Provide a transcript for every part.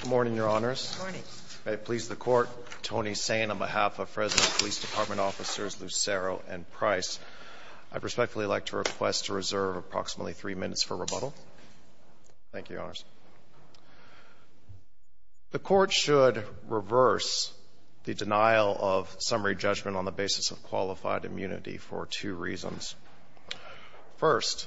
Good morning, Your Honors. May it please the Court, Tony Sain on behalf of Fresno Police Department officers Lucero and Price, I'd respectfully like to request to reserve approximately three minutes for rebuttal. Thank you, Your Honors. The Court should reverse the denial of summary judgment on the basis of qualified immunity for two reasons. First,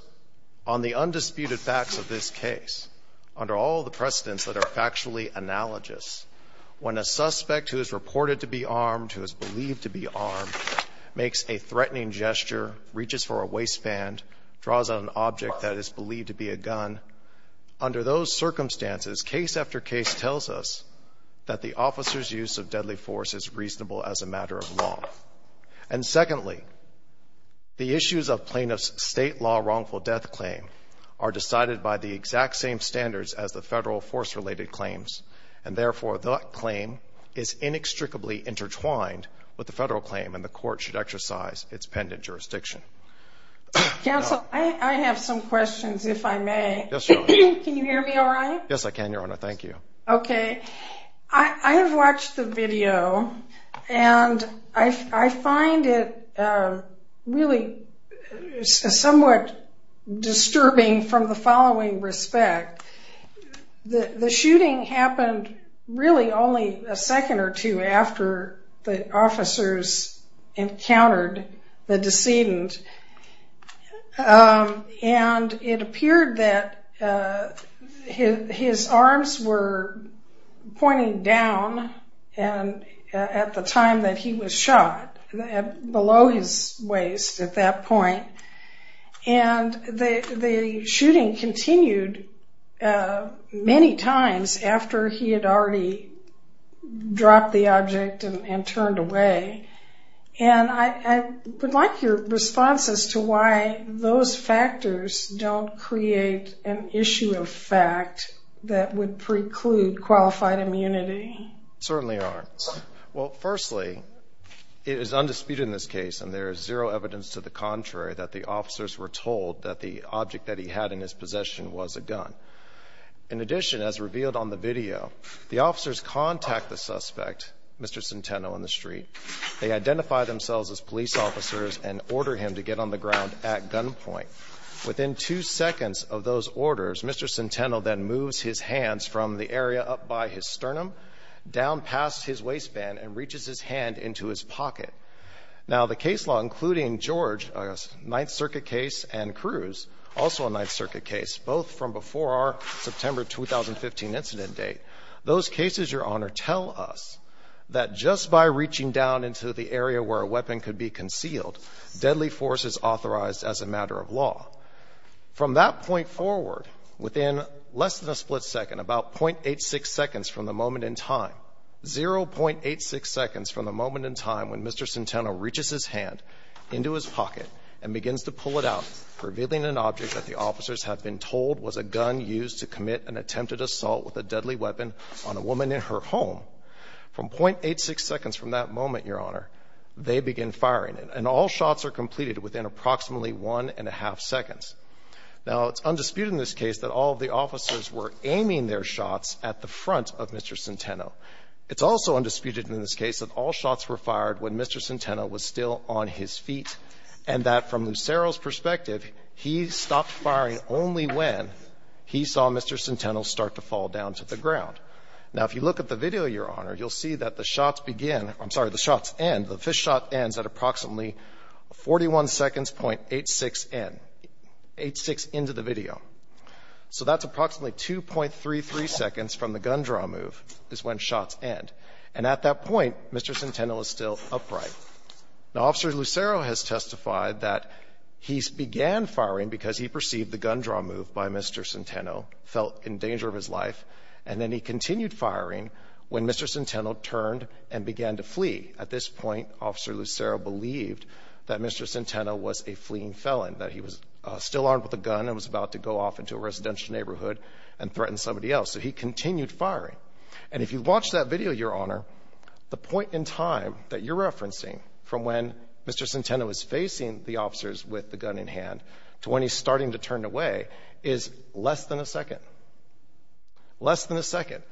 on the undisputed facts of this case, under all the precedents that are factually analogous, when a suspect who is reported to be armed, who is believed to be armed, makes a threatening gesture, reaches for a waistband, draws on an object that is believed to be a gun, under those circumstances, case after case tells us that the officer's use of deadly force is reasonable as a matter of law. And secondly, the issues of plaintiff's state law wrongful death claim are decided by the exact same standards as the federal force-related claims, and therefore, that claim is inextricably intertwined with the federal claim, and the Court should exercise its pendant jurisdiction. Counsel, I have some questions if I may. Yes, Your Honor. Can you hear me all right? Yes, I can, Your Honor. Thank you. Okay. I have watched the video, and I find it really somewhat disturbing from the following respect. The shooting happened really only a second or two after the officers encountered the decedent, and it appeared that his arms were pointing down at the time that he was shot, below his waist at that point, and the shooting continued many times after he had already dropped the object and turned away. And I would like your response as to why those factors don't create an issue of fact that would preclude qualified immunity. Certainly aren't. Well, firstly, it is undisputed in this case, and there is zero evidence to the contrary that the officers were told that the object that he had in his possession was a gun. In addition, as revealed on the video, the officers contact the suspect, Mr. Centeno, in the street. They identify themselves as police officers and order him to get on the ground at gunpoint. Within two seconds of those orders, Mr. Centeno then moves his hands from the area up by his sternum down past his waistband and reaches his hand into his pocket. Now, the case law, including George, a Ninth Circuit case, and Cruz, also a Ninth Circuit case, both from before our September 2015 incident date, those cases, Your Honor, tell us that just by reaching down into the area where a weapon could be less than a split second, about 0.86 seconds from the moment in time, 0.86 seconds from the moment in time when Mr. Centeno reaches his hand into his pocket and begins to pull it out, revealing an object that the officers have been told was a gun used to commit an attempted assault with a deadly weapon on a woman in her home. From 0.86 seconds from that moment, Your Honor, they begin firing, and all shots are completed within approximately 1.5 seconds. Now, it's undisputed in this case that all of the officers were aiming their shots at the front of Mr. Centeno. It's also undisputed in this case that all shots were fired when Mr. Centeno was still on his feet, and that from Lucero's perspective, he stopped firing only when he saw Mr. Centeno start to fall down to the ground. Now, if you look at the video, Your Honor, you'll see that the shots begin I'm sorry, the shots end, the first shot ends at approximately 41 seconds, 0.86 in, 0.86 into the video. So that's approximately 2.33 seconds from the gun draw move is when shots end. And at that point, Mr. Centeno is still upright. Now, Officer Lucero has testified that he began firing because he perceived the gun draw move by Mr. Centeno, felt in danger of his life, and then he continued firing when Mr. Centeno turned and began to flee. At this point, Officer Lucero believed that Mr. Centeno was a fleeing felon, that he was still armed with a gun and was about to go off into a residential neighborhood and threaten somebody else. So he continued firing. And if you watch that video, Your Honor, the point in time that you're referencing from when Mr. Centeno is facing the officers with the gun in hand to when he's starting to turn away is less than a second, less than a second.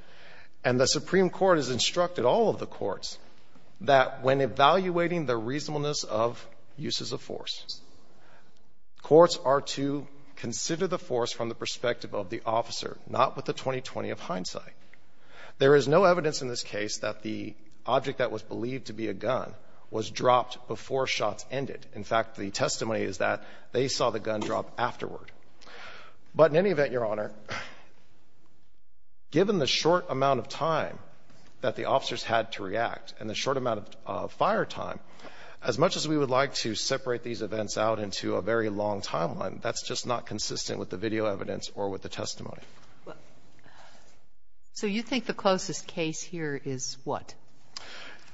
And the Supreme Court has instructed all of the courts that when evaluating the reasonableness of uses of force, courts are to consider the force from the perspective of the officer, not with the 20-20 of hindsight. There is no evidence in this case that the object that was believed to be a gun was dropped before shots ended. In fact, the testimony is that they saw the gun drop afterward. But in any event, Your that the officers had to react and the short amount of fire time, as much as we would like to separate these events out into a very long timeline, that's just not consistent with the video evidence or with the testimony. So you think the closest case here is what?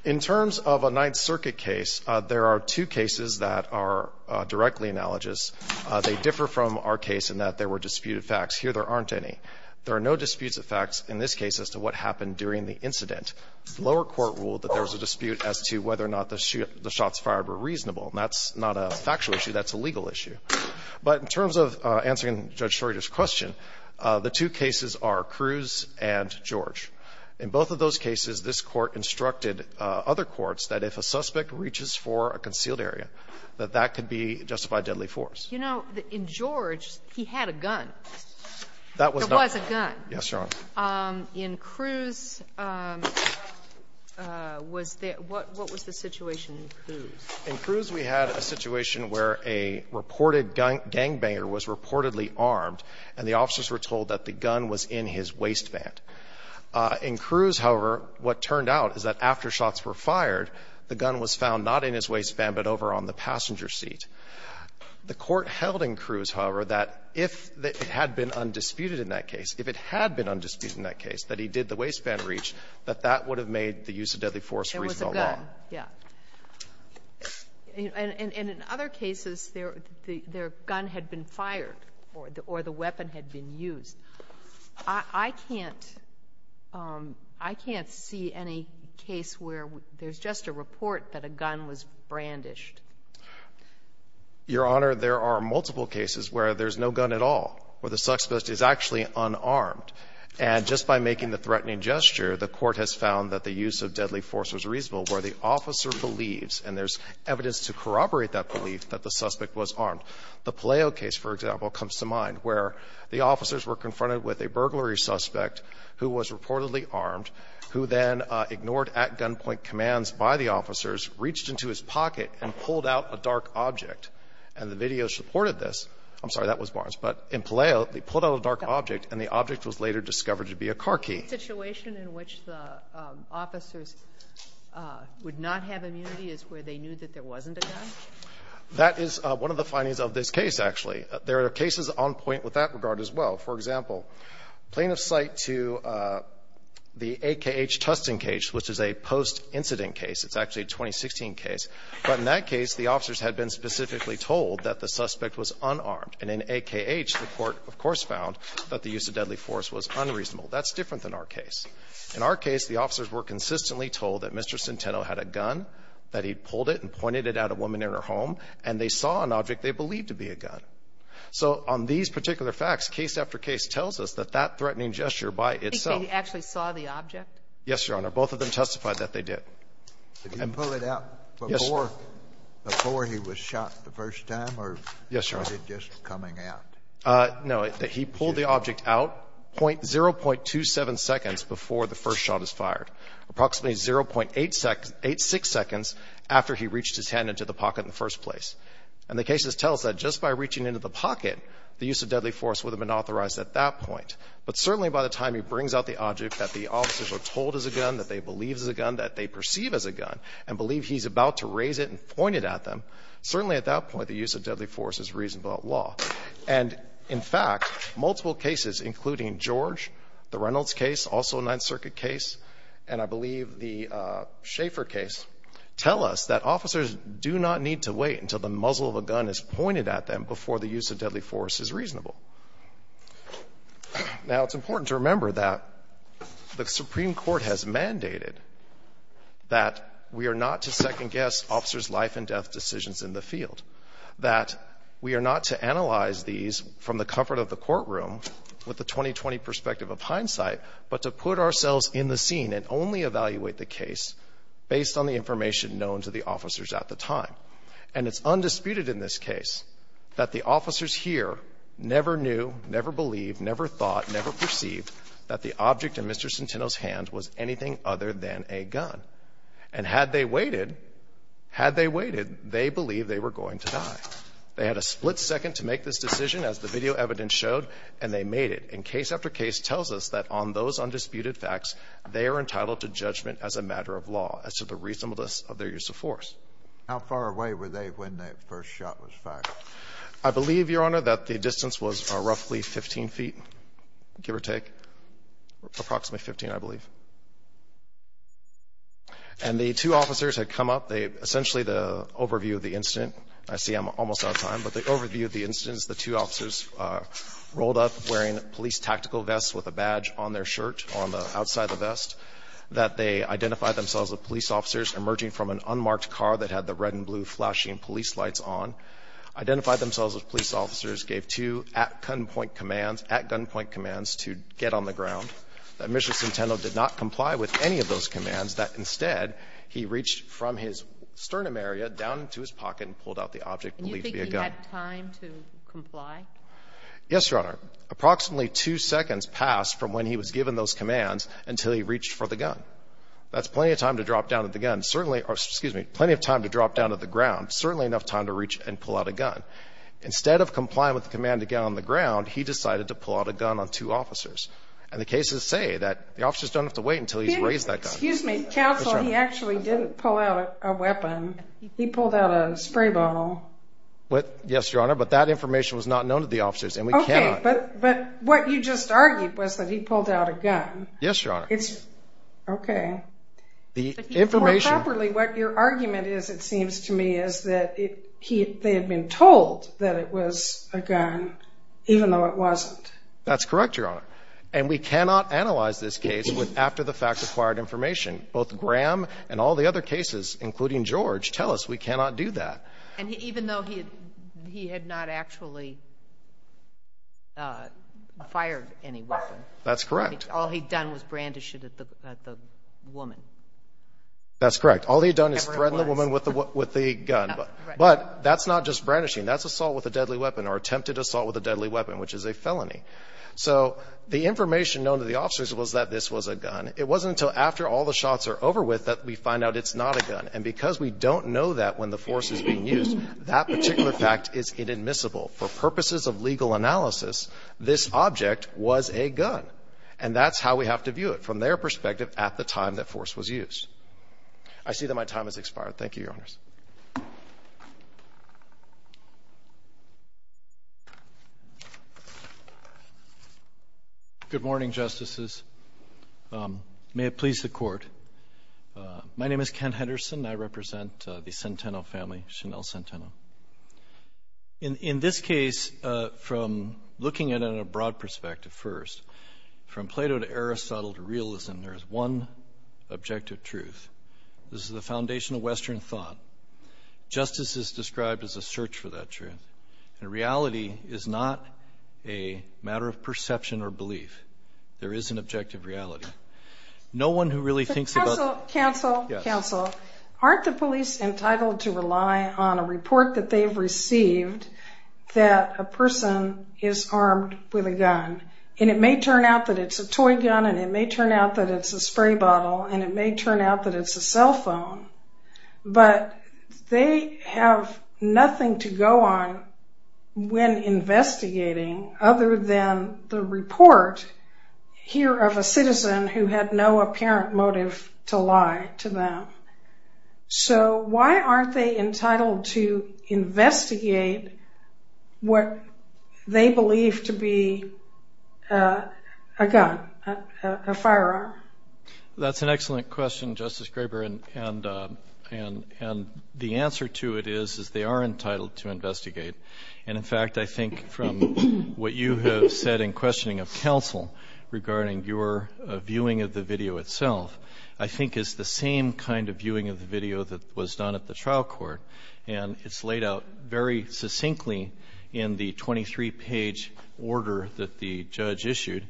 In terms of a Ninth Circuit case, there are two cases that are directly analogous. They differ from our case in that there were disputed facts. Here, there aren't any. There are no disputes of facts in this case as to what happened during the incident. The lower court ruled that there was a dispute as to whether or not the shots fired were reasonable. And that's not a factual issue. That's a legal issue. But in terms of answering Judge Shorter's question, the two cases are Cruz and George. In both of those cases, this Court instructed other courts that if a suspect reaches for a concealed area, that that could be justified deadly force. You know, in George, he had a gun. That was not a gun. Yes, Your Honor. In Cruz, was there — what was the situation in Cruz? In Cruz, we had a situation where a reported gangbanger was reportedly armed, and the officers were told that the gun was in his waistband. In Cruz, however, what turned out is that after shots were fired, the gun was found not in his waistband, but over on the passenger seat. The Court held in Cruz, however, that if the — if it had been undisputed in that case, if it had been undisputed in that case, that he did the waistband reach, that that would have made the use of deadly force reasonable law. There was a gun, yes. And in other cases, their gun had been fired or the weapon had been used. I can't — I can't see any case where there's just a report that a gun was brandished. Your Honor, there are multiple cases where there's no gun at all, where there's a suspect is actually unarmed. And just by making the threatening gesture, the Court has found that the use of deadly force was reasonable, where the officer believes — and there's evidence to corroborate that belief — that the suspect was armed. The Palaio case, for example, comes to mind, where the officers were confronted with a burglary suspect who was reportedly armed, who then ignored at-gunpoint commands by the officers, reached into his pocket, and pulled out a dark object. And the video supported this. I'm sorry, that was Barnes. But in Palaio, they pulled out a dark object, and the object was later discovered to be a car key. The situation in which the officers would not have immunity is where they knew that there wasn't a gun? That is one of the findings of this case, actually. There are cases on point with that regard as well. For example, plaintiff's cite to the AKH testing case, which is a post-incident case. It's actually a 2016 case. But in that case, the officers had been specifically told that the suspect was unarmed. And in AKH, the Court, of course, found that the use of deadly force was unreasonable. That's different than our case. In our case, the officers were consistently told that Mr. Centeno had a gun, that he'd pulled it and pointed it at a woman in her home, and they saw an object they believed to be a gun. So on these particular facts, case after case tells us that that threatening gesture by itself — He actually saw the object? Yes, Your Honor. Both of them testified that they did. Did he pull it out before he was shot the first time or was it just coming out? No. He pulled the object out 0.27 seconds before the first shot was fired, approximately 0.86 seconds after he reached his hand into the pocket in the first place. And the case tells us that just by reaching into the pocket, the use of deadly force would have been authorized at that point. But certainly by the time he brings out the object, that the officers were told it was a gun, that they believed it was a gun, that they perceive as a gun, and believe he's about to raise it and point it at them, certainly at that point the use of deadly force is reasonable at law. And, in fact, multiple cases, including George, the Reynolds case, also a Ninth Circuit case, and I believe the Schaeffer case, tell us that officers do not need to wait until the muzzle of a gun is pointed at them before the use of deadly force is reasonable. Now, it's important to remember that the Supreme Court has mandated that we are not to second-guess officers' life and death decisions in the field, that we are not to analyze these from the comfort of the courtroom, with the 2020 perspective of hindsight, but to put ourselves in the scene and only evaluate the case based on the information known to the officers at the time. And it's undisputed in this case that the officers here never knew, never believed, never thought, never perceived that the object in Mr. Centeno's hand was anything other than a gun. And had they waited, had they waited, they believed they were going to die. They had a split second to make this decision, as the video evidence showed, and they made it. And case after case tells us that on those undisputed facts, they are entitled to judgment as a matter of law as to the reasonableness of their use of force. How far away were they when that first shot was fired? I believe, Your Honor, that the distance was roughly 15 feet, give or take, approximately 15, I believe. And the two officers had come up, they essentially the overview of the incident, I see I'm almost out of time, but the overview of the instance, the two officers rolled up wearing police tactical vests with a badge on their shirt on the outside of the vest, that they identify themselves as police officers emerging from an unmarked car that had the red and blue flashing police lights on, identified themselves as police officers, gave two at gunpoint commands, at gunpoint commands to get on the ground, that Mr. Centeno did not comply with any of those commands, that instead, he reached from his sternum area down into his pocket and pulled out the object believed to be a gun. And you think he had time to comply? Yes, Your Honor. Approximately two seconds passed from when he was given those commands until he reached for the gun. That's plenty of time to drop down at the ground, certainly enough time to reach and pull out a gun. Instead of complying with the command to get on the ground, he decided to pull out a gun on two officers. And the cases say that the officers don't have to wait until he's raised that gun. Excuse me, counsel, he actually didn't pull out a weapon. He pulled out a spray bottle. What? Yes, Your Honor. But that information was not known to the officers and we cannot. But but what you just argued was that he pulled out a gun. Yes, Your Honor. It's OK. The information. Properly, what your argument is, it seems to me, is that he they had been told that it was a gun, even though it wasn't. That's correct, Your Honor. And we cannot analyze this case after the fact acquired information. Both Graham and all the other cases, including George, tell us we cannot do that. And even though he he had not actually. Fired any weapon. That's correct. All he'd done was brandish it at the woman. That's correct, all he'd done is threaten the woman with the with the gun, but that's not just brandishing, that's assault with a deadly weapon or attempted assault with a deadly weapon, which is a felony. So the information known to the officers was that this was a gun. It wasn't until after all the shots are over with that we find out it's not a gun. And because we don't know that when the force is being used, that particular fact This object was a gun. And that's how we have to view it from their perspective at the time that force was used. I see that my time has expired. Thank you, Your Honors. Good morning, Justices, may it please the court. My name is Ken Henderson. I represent the Centeno family, Chanel Centeno. In this case, from looking at it in a broad perspective, first, from Plato to Aristotle to realism, there is one objective truth. This is the foundation of Western thought. Justice is described as a search for that truth. And reality is not a matter of perception or belief. There is an objective reality. No one who really thinks about. Counsel, counsel, counsel, aren't the police entitled to rely on a report that they've received that a person is armed with a gun? And it may turn out that it's a toy gun and it may turn out that it's a spray bottle and it may turn out that it's a cell phone. But they have nothing to go on when investigating other than the report here of a lie to them. So why aren't they entitled to investigate what they believe to be a gun, a firearm? That's an excellent question, Justice Graber. And the answer to it is, is they are entitled to investigate. And in fact, I think from what you have said in questioning of counsel regarding your video itself, I think it's the same kind of viewing of the video that was done at the trial court. And it's laid out very succinctly in the 23 page order that the judge issued.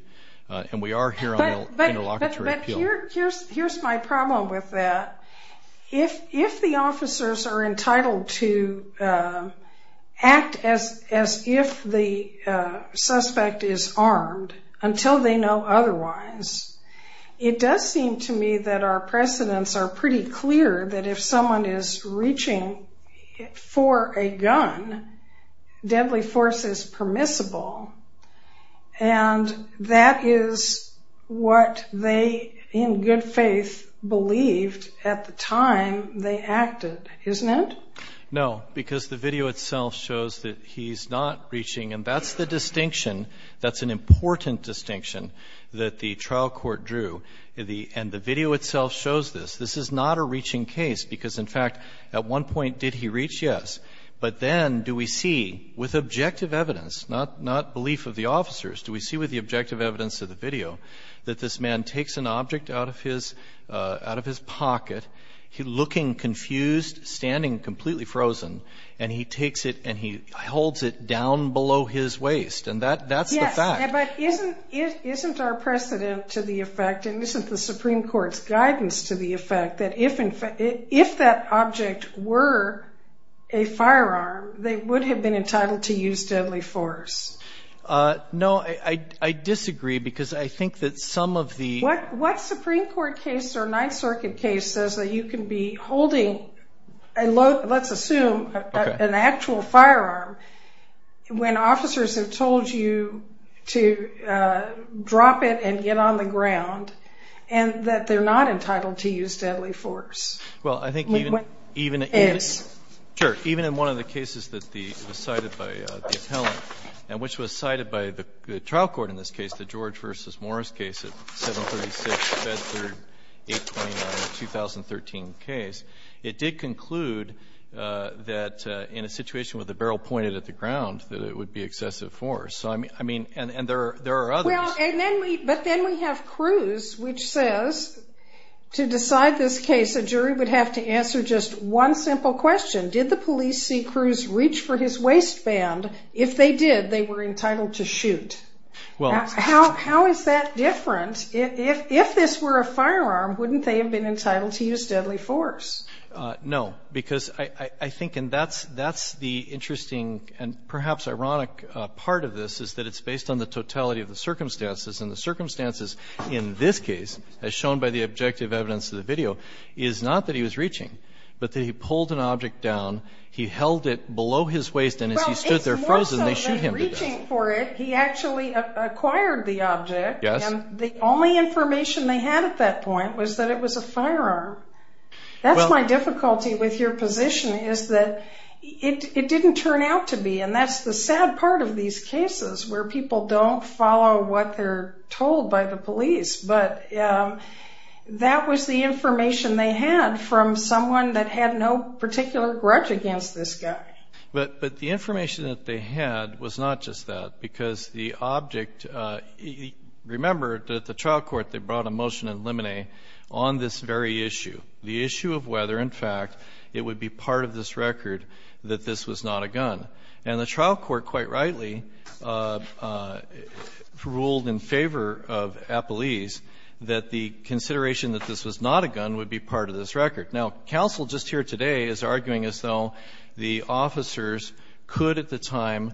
And we are here on an interlocutory appeal. Here's my problem with that. If the officers are entitled to act as if the suspect is armed until they know otherwise, it does seem to me that our precedents are pretty clear that if someone is reaching for a gun, deadly force is permissible. And that is what they, in good faith, believed at the time they acted, isn't it? No, because the video itself shows that he's not reaching. And that's the distinction. That's an important distinction that the trial court drew. And the video itself shows this. This is not a reaching case, because in fact, at one point, did he reach? Yes. But then do we see, with objective evidence, not belief of the officers, do we see with the objective evidence of the video that this man takes an object out of his pocket, looking confused, standing completely frozen, and he takes it and he holds it down below his waist? And that's the fact. Yes, but isn't our precedent to the effect, and isn't the Supreme Court's guidance to the effect, that if that object were a firearm, they would have been entitled to use deadly force? No, I disagree, because I think that some of the... What Supreme Court case or Ninth Circuit case says that you can be holding, let's assume, an actual firearm, when officers have told you to drop it and get on the ground, and that they're not entitled to use deadly force. Well, I think even in one of the cases that was cited by the appellant, and which was cited by the trial court in this case, the George v. Morris case of 736 Bedford 829, a 2013 case, it did conclude that in a situation with the barrel pointed at the ground, that it would be excessive force. So, I mean... And there are others. Well, and then we... But then we have Cruz, which says, to decide this case, a jury would have to answer just one simple question. Did the police see Cruz reach for his waistband? If they did, they were entitled to shoot. Well... How is that different? If this were a firearm, wouldn't they have been entitled to use deadly force? No, because I think, and that's the interesting and perhaps ironic part of this, is that it's based on the totality of the circumstances. And the circumstances in this case, as shown by the objective evidence of the video, is not that he was reaching, but that he pulled an object down, he held it below his waist, and as he stood there frozen, they shoot him to death. He wasn't reaching for it, he actually acquired the object, and the only information they had at that point was that it was a firearm. That's my difficulty with your position, is that it didn't turn out to be, and that's the sad part of these cases, where people don't follow what they're told by the police. But that was the information they had from someone that had no particular grudge against this guy. But the information that they had was not just that, because the object, remember that the trial court, they brought a motion in limine on this very issue. The issue of whether, in fact, it would be part of this record that this was not a gun. And the trial court, quite rightly, ruled in favor of Appelese that the consideration that this was not a gun would be part of this record. Now, counsel just here today is arguing as though the officers could at the time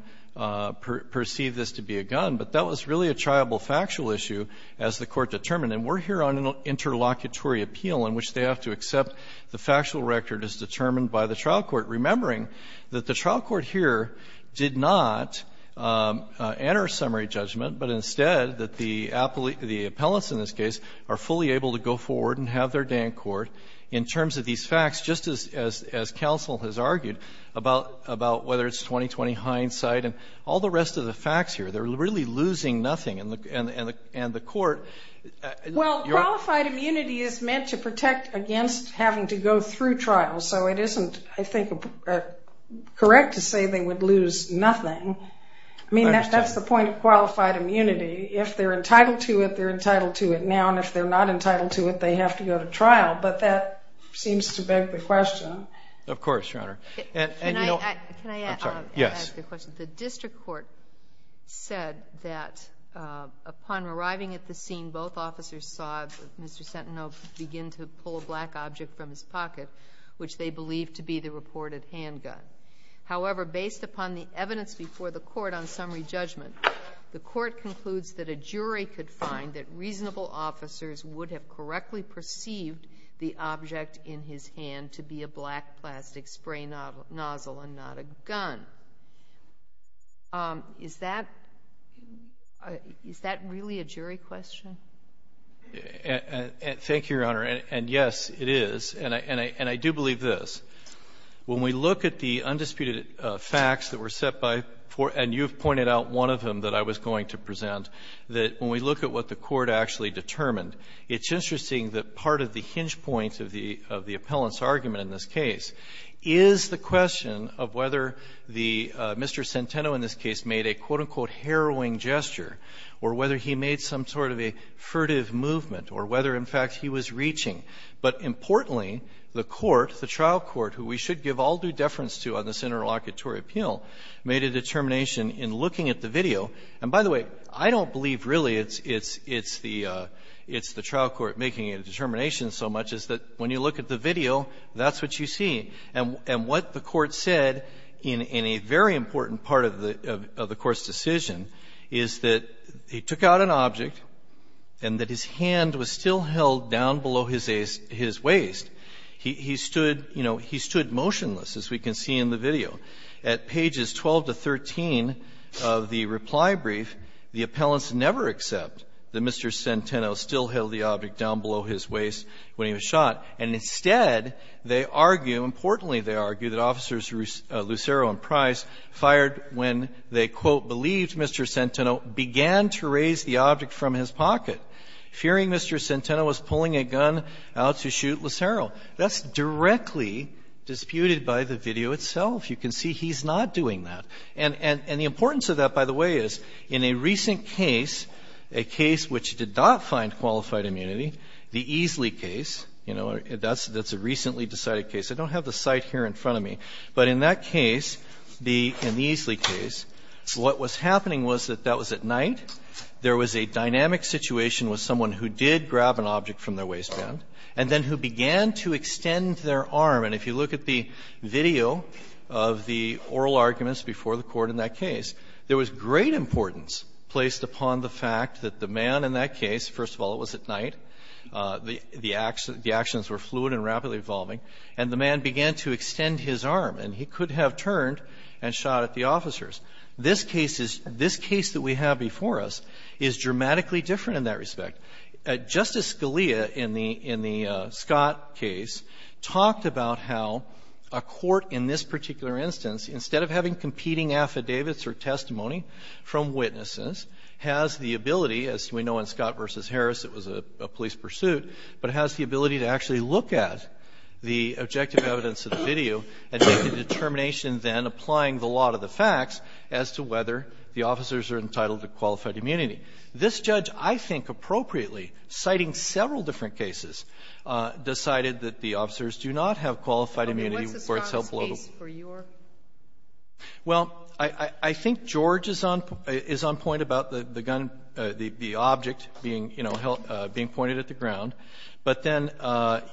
perceive this to be a gun, but that was really a triable factual issue as the Court determined. And we're here on an interlocutory appeal in which they have to accept the factual record as determined by the trial court, remembering that the trial court here did not enter a summary judgment, but instead that the Appelese or the appellants in this case are fully able to go forward and have their day in court in terms of the facts, just as counsel has argued about whether it's 20-20 hindsight and all the rest of the facts here. They're really losing nothing. And the Court — Well, qualified immunity is meant to protect against having to go through trial. So it isn't, I think, correct to say they would lose nothing. I mean, that's the point of qualified immunity. If they're entitled to it, they're entitled to it now. And if they're not entitled to it, they have to go to trial. But that seems to beg the question. Of course, Your Honor. And, you know — Can I — I'm sorry. Yes. Can I ask a question? The district court said that upon arriving at the scene, both officers saw Mr. Sentineau begin to pull a black object from his pocket, which they believed to be the reported handgun. However, based upon the evidence before the Court on summary judgment, the Court concludes that a jury could find that reasonable officers would have correctly perceived the object in his hand to be a black plastic spray nozzle and not a gun. Is that — is that really a jury question? Thank you, Your Honor. And, yes, it is. And I do believe this. When we look at the undisputed facts that were set by — and you've pointed out one of them that I was going to present — that when we look at what the Court actually determined, it's interesting that part of the hinge point of the — of the appellant's argument in this case is the question of whether the — Mr. Sentineau in this case made a, quote, unquote, harrowing gesture, or whether he made some sort of a furtive movement, or whether, in fact, he was reaching. But, importantly, the Court, the trial court, who we should give all due deference to on this interlocutory appeal, made a determination in looking at the video. And, by the way, I don't believe, really, it's — it's — it's the — it's the trial court making a determination so much as that when you look at the video, that's what you see. And — and what the Court said in a very important part of the — of the Court's decision is that he took out an object and that his hand was still held down below his waist. He — he stood, you know, he stood motionless, as we can see in the video. At pages 12 to 13 of the reply brief, the appellants never accept that Mr. Sentineau still held the object down below his waist when he was shot. And instead, they argue — importantly, they argue that Officers Lucero and Price fired when they, quote, believed Mr. Sentineau began to raise the object from his pocket, fearing Mr. Sentineau was pulling a gun out to shoot Lucero. That's directly disputed by the video itself. You can see he's not doing that. And — and the importance of that, by the way, is in a recent case, a case which did not find qualified immunity, the Easley case, you know, that's — that's a recently decided case. I don't have the site here in front of me, but in that case, the — in the Easley case, what was happening was that that was at night, there was a dynamic situation with someone who did grab an object from their waistband, and then who began to extend their arm. And if you look at the video of the oral arguments before the Court in that case, there was great importance placed upon the fact that the man in that case, first of all, it was at night. The — the actions were fluid and rapidly evolving. And the man began to extend his arm, and he could have turned and shot at the officers. This case is — this case that we have before us is dramatically different in that respect. Justice Scalia in the — in the Scott case talked about how a court in this particular instance, instead of having competing affidavits or testimony from witnesses, has the ability, as we know in Scott v. Harris, it was a police pursuit, but has the ability to actually look at the objective evidence of the video and make a determination then applying the law to the facts as to whether the officers are entitled to qualified immunity. This judge, I think appropriately, citing several different cases, decided that the officers do not have qualified immunity where it's held below the law. Sotomayor, what's the Scott case for your — Well, I think George is on — is on point about the gun, the object being, you know, held — being pointed at the ground. But then,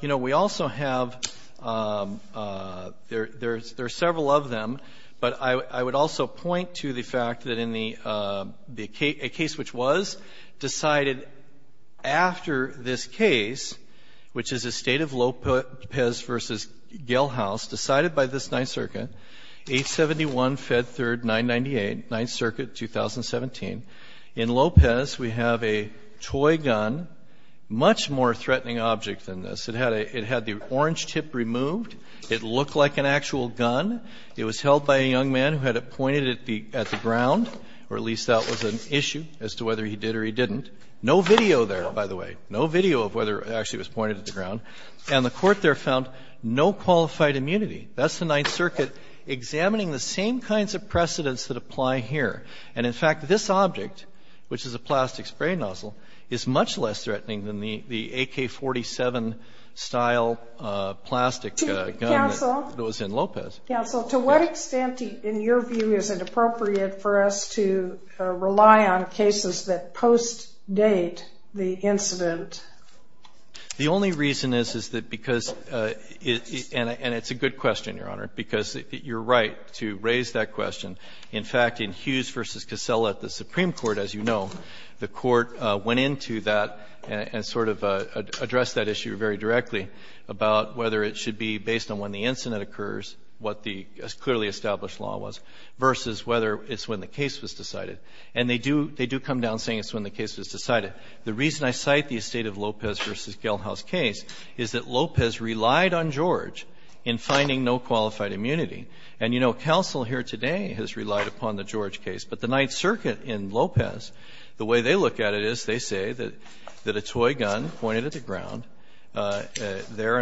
you know, we also have — there are several of them, but I would also point to the fact that in the — a case which was decided after this case, which is a State of Lopez v. Gellhaus, decided by this Ninth Circuit, 871 Fed 3rd 998, Ninth Circuit, 2017. In Lopez, we have a toy gun, much more threatening object than this. It had a — it had the orange tip removed. It looked like an actual gun. It was held by a young man who had it pointed at the ground, or at least that was an issue as to whether he did or he didn't. No video there, by the way. No video of whether it actually was pointed at the ground. And the Court there found no qualified immunity. That's the Ninth Circuit examining the same kinds of precedents that apply here. And in fact, this object, which is a plastic spray nozzle, is much less threatening than the AK-47-style plastic gun that was in Lopez. Counsel, to what extent, in your view, is it appropriate for us to rely on cases that post-date the incident? The only reason is, is that because — and it's a good question, Your Honor, because you're right to raise that question. In fact, in Hughes v. Casella at the Supreme Court, as you know, the Court went into that and sort of addressed that issue very directly about whether it should be based on when the incident occurs, what the clearly established law was, versus whether it's when the case was decided. And they do — they do come down saying it's when the case was decided. The reason I cite the Estate of Lopez v. Gellhaus case is that Lopez relied on George in finding no qualified immunity. And, you know, counsel here today has relied upon the George case. But the there, an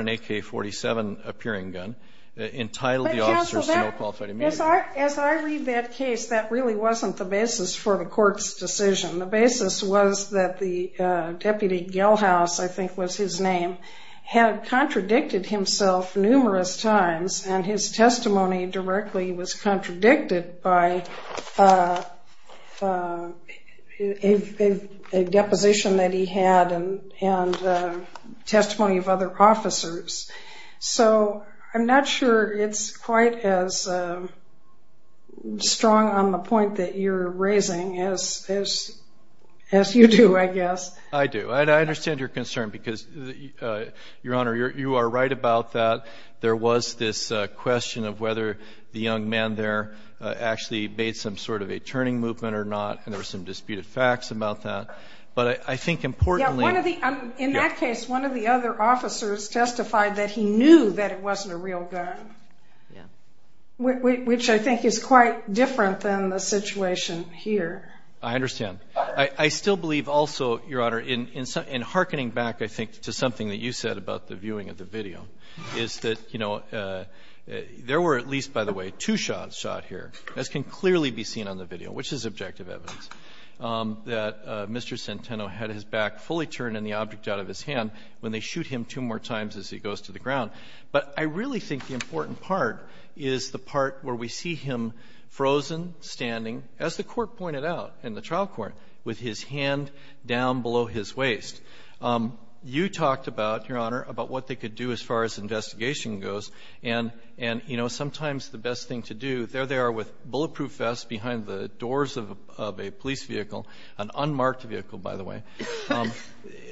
AK-47-appearing gun, entitled the officers to no qualified immunity. But, counsel, as I read that case, that really wasn't the basis for the Court's decision. The basis was that the deputy, Gellhaus, I think was his name, had contradicted himself numerous times. And his testimony directly was contradicted by a deposition that he had and testimony of other officers. So I'm not sure it's quite as strong on the point that you're raising as you do, I guess. I do. And I understand your concern, because, Your Honor, you are right about that. There was this question of whether the young man there actually made some sort of a I think importantly In that case, one of the other officers testified that he knew that it wasn't a real gun, which I think is quite different than the situation here. I understand. I still believe also, Your Honor, in harkening back, I think, to something that you said about the viewing of the video, is that, you know, there were at least, by the way, two shots shot here, as can clearly be seen on the video, which is objective evidence, that Mr. Centeno had his back fully turned and the object out of his hand when they shoot him two more times as he goes to the ground. But I really think the important part is the part where we see him frozen, standing, as the Court pointed out in the trial court, with his hand down below his waist. You talked about, Your Honor, about what they could do as far as investigation goes. And, you know, sometimes the best thing to do, there they are with bulletproof vests behind the doors of the vehicle, of a police vehicle, an unmarked vehicle, by the way.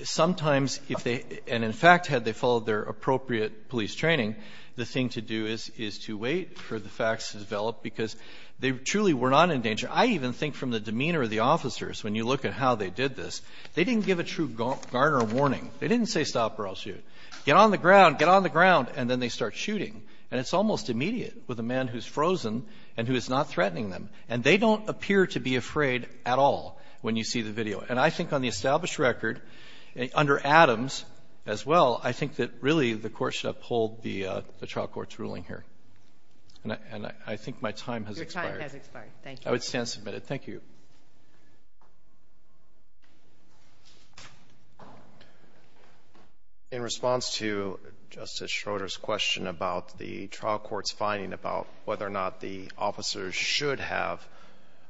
Sometimes if they, and in fact, had they followed their appropriate police training, the thing to do is to wait for the facts to develop, because they truly were not in danger. I even think from the demeanor of the officers, when you look at how they did this, they didn't give a true Garner warning. They didn't say, stop or I'll shoot. Get on the ground, get on the ground, and then they start shooting. And it's almost immediate with a man who's frozen and who is not afraid at all when you see the video. And I think on the established record, under Adams as well, I think that really the Court should uphold the trial court's ruling here. And I think my time has expired. Your time has expired. Thank you. I would stand submitted. Thank you. In response to Justice Schroeder's question about the trial court's finding about whether or not the officers should have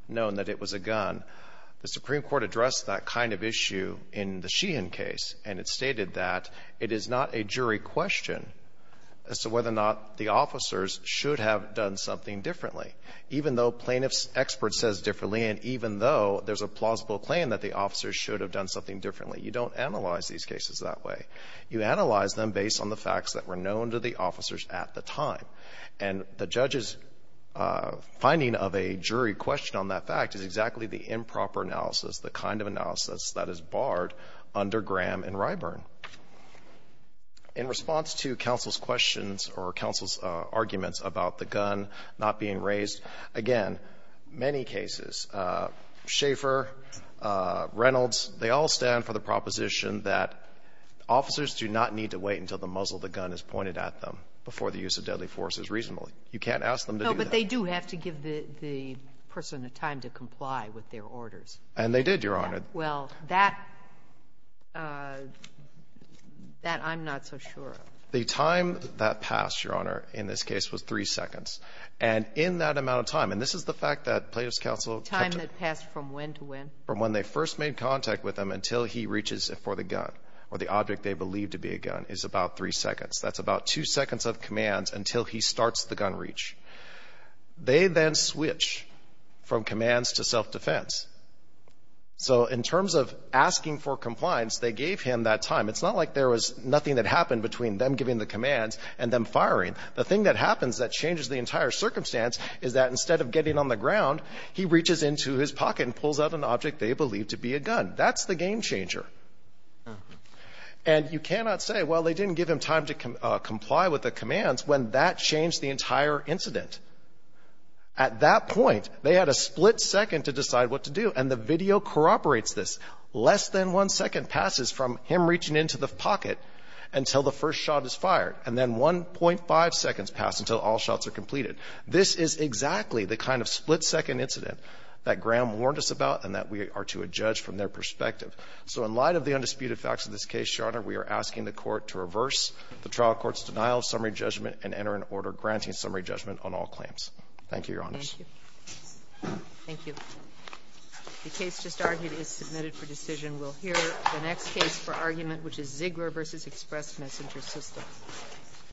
known that it was a gun, the Supreme Court addressed that kind of issue in the Sheehan case, and it stated that it is not a jury question as to whether or not the officers should have done something differently. Even though plaintiff's expert says differently and even though there's a plausible claim that the officers should have done something differently, you don't analyze these cases that way. You analyze them based on the facts that were known to the officers at the time. And the judge's finding of a jury question on that fact is exactly the improper analysis, the kind of analysis that is barred under Graham and Ryburn. In response to counsel's questions or counsel's arguments about the gun not being raised, again, many cases, Schaeffer, Reynolds, they all stand for the proposition that officers do not need to wait until the muzzle of the gun is pointed at them before the use of deadly force is reasonable. You can't ask them to do that. No, but they do have to give the person the time to comply with their orders. And they did, Your Honor. Well, that, that I'm not so sure of. The time that passed, Your Honor, in this case was three seconds. And in that amount of time, and this is the fact that plaintiff's counsel kept it. Time that passed from when to when? From when they first made contact with him until he reaches for the gun or the object they believe to be a gun is about three seconds. That's about two seconds of command until he starts the gun reach. They then switch from commands to self-defense. So in terms of asking for compliance, they gave him that time. It's not like there was nothing that happened between them giving the commands and them firing. The thing that happens that changes the entire circumstance is that instead of getting on the ground, he reaches into his pocket and pulls out an object they believe to be a gun. That's the game changer. And you cannot say, well, they didn't give him time to comply with the commands when that changed the entire incident. At that point, they had a split second to decide what to do. And the video corroborates this. Less than one second passes from him reaching into the pocket until the first shot is fired. And then 1.5 seconds pass until all shots are completed. This is exactly the kind of split-second incident that Graham warned us about and that we are to adjudge from their perspective. So in light of the undisputed facts of this case, Your Honor, we are asking the Court to reverse the trial court's denial of summary judgment and enter an order granting summary judgment on all claims. Thank you, Your Honors. Thank you. The case just argued is submitted for decision. We'll hear the next case for argument, which is Ziegler v. Express Messenger System.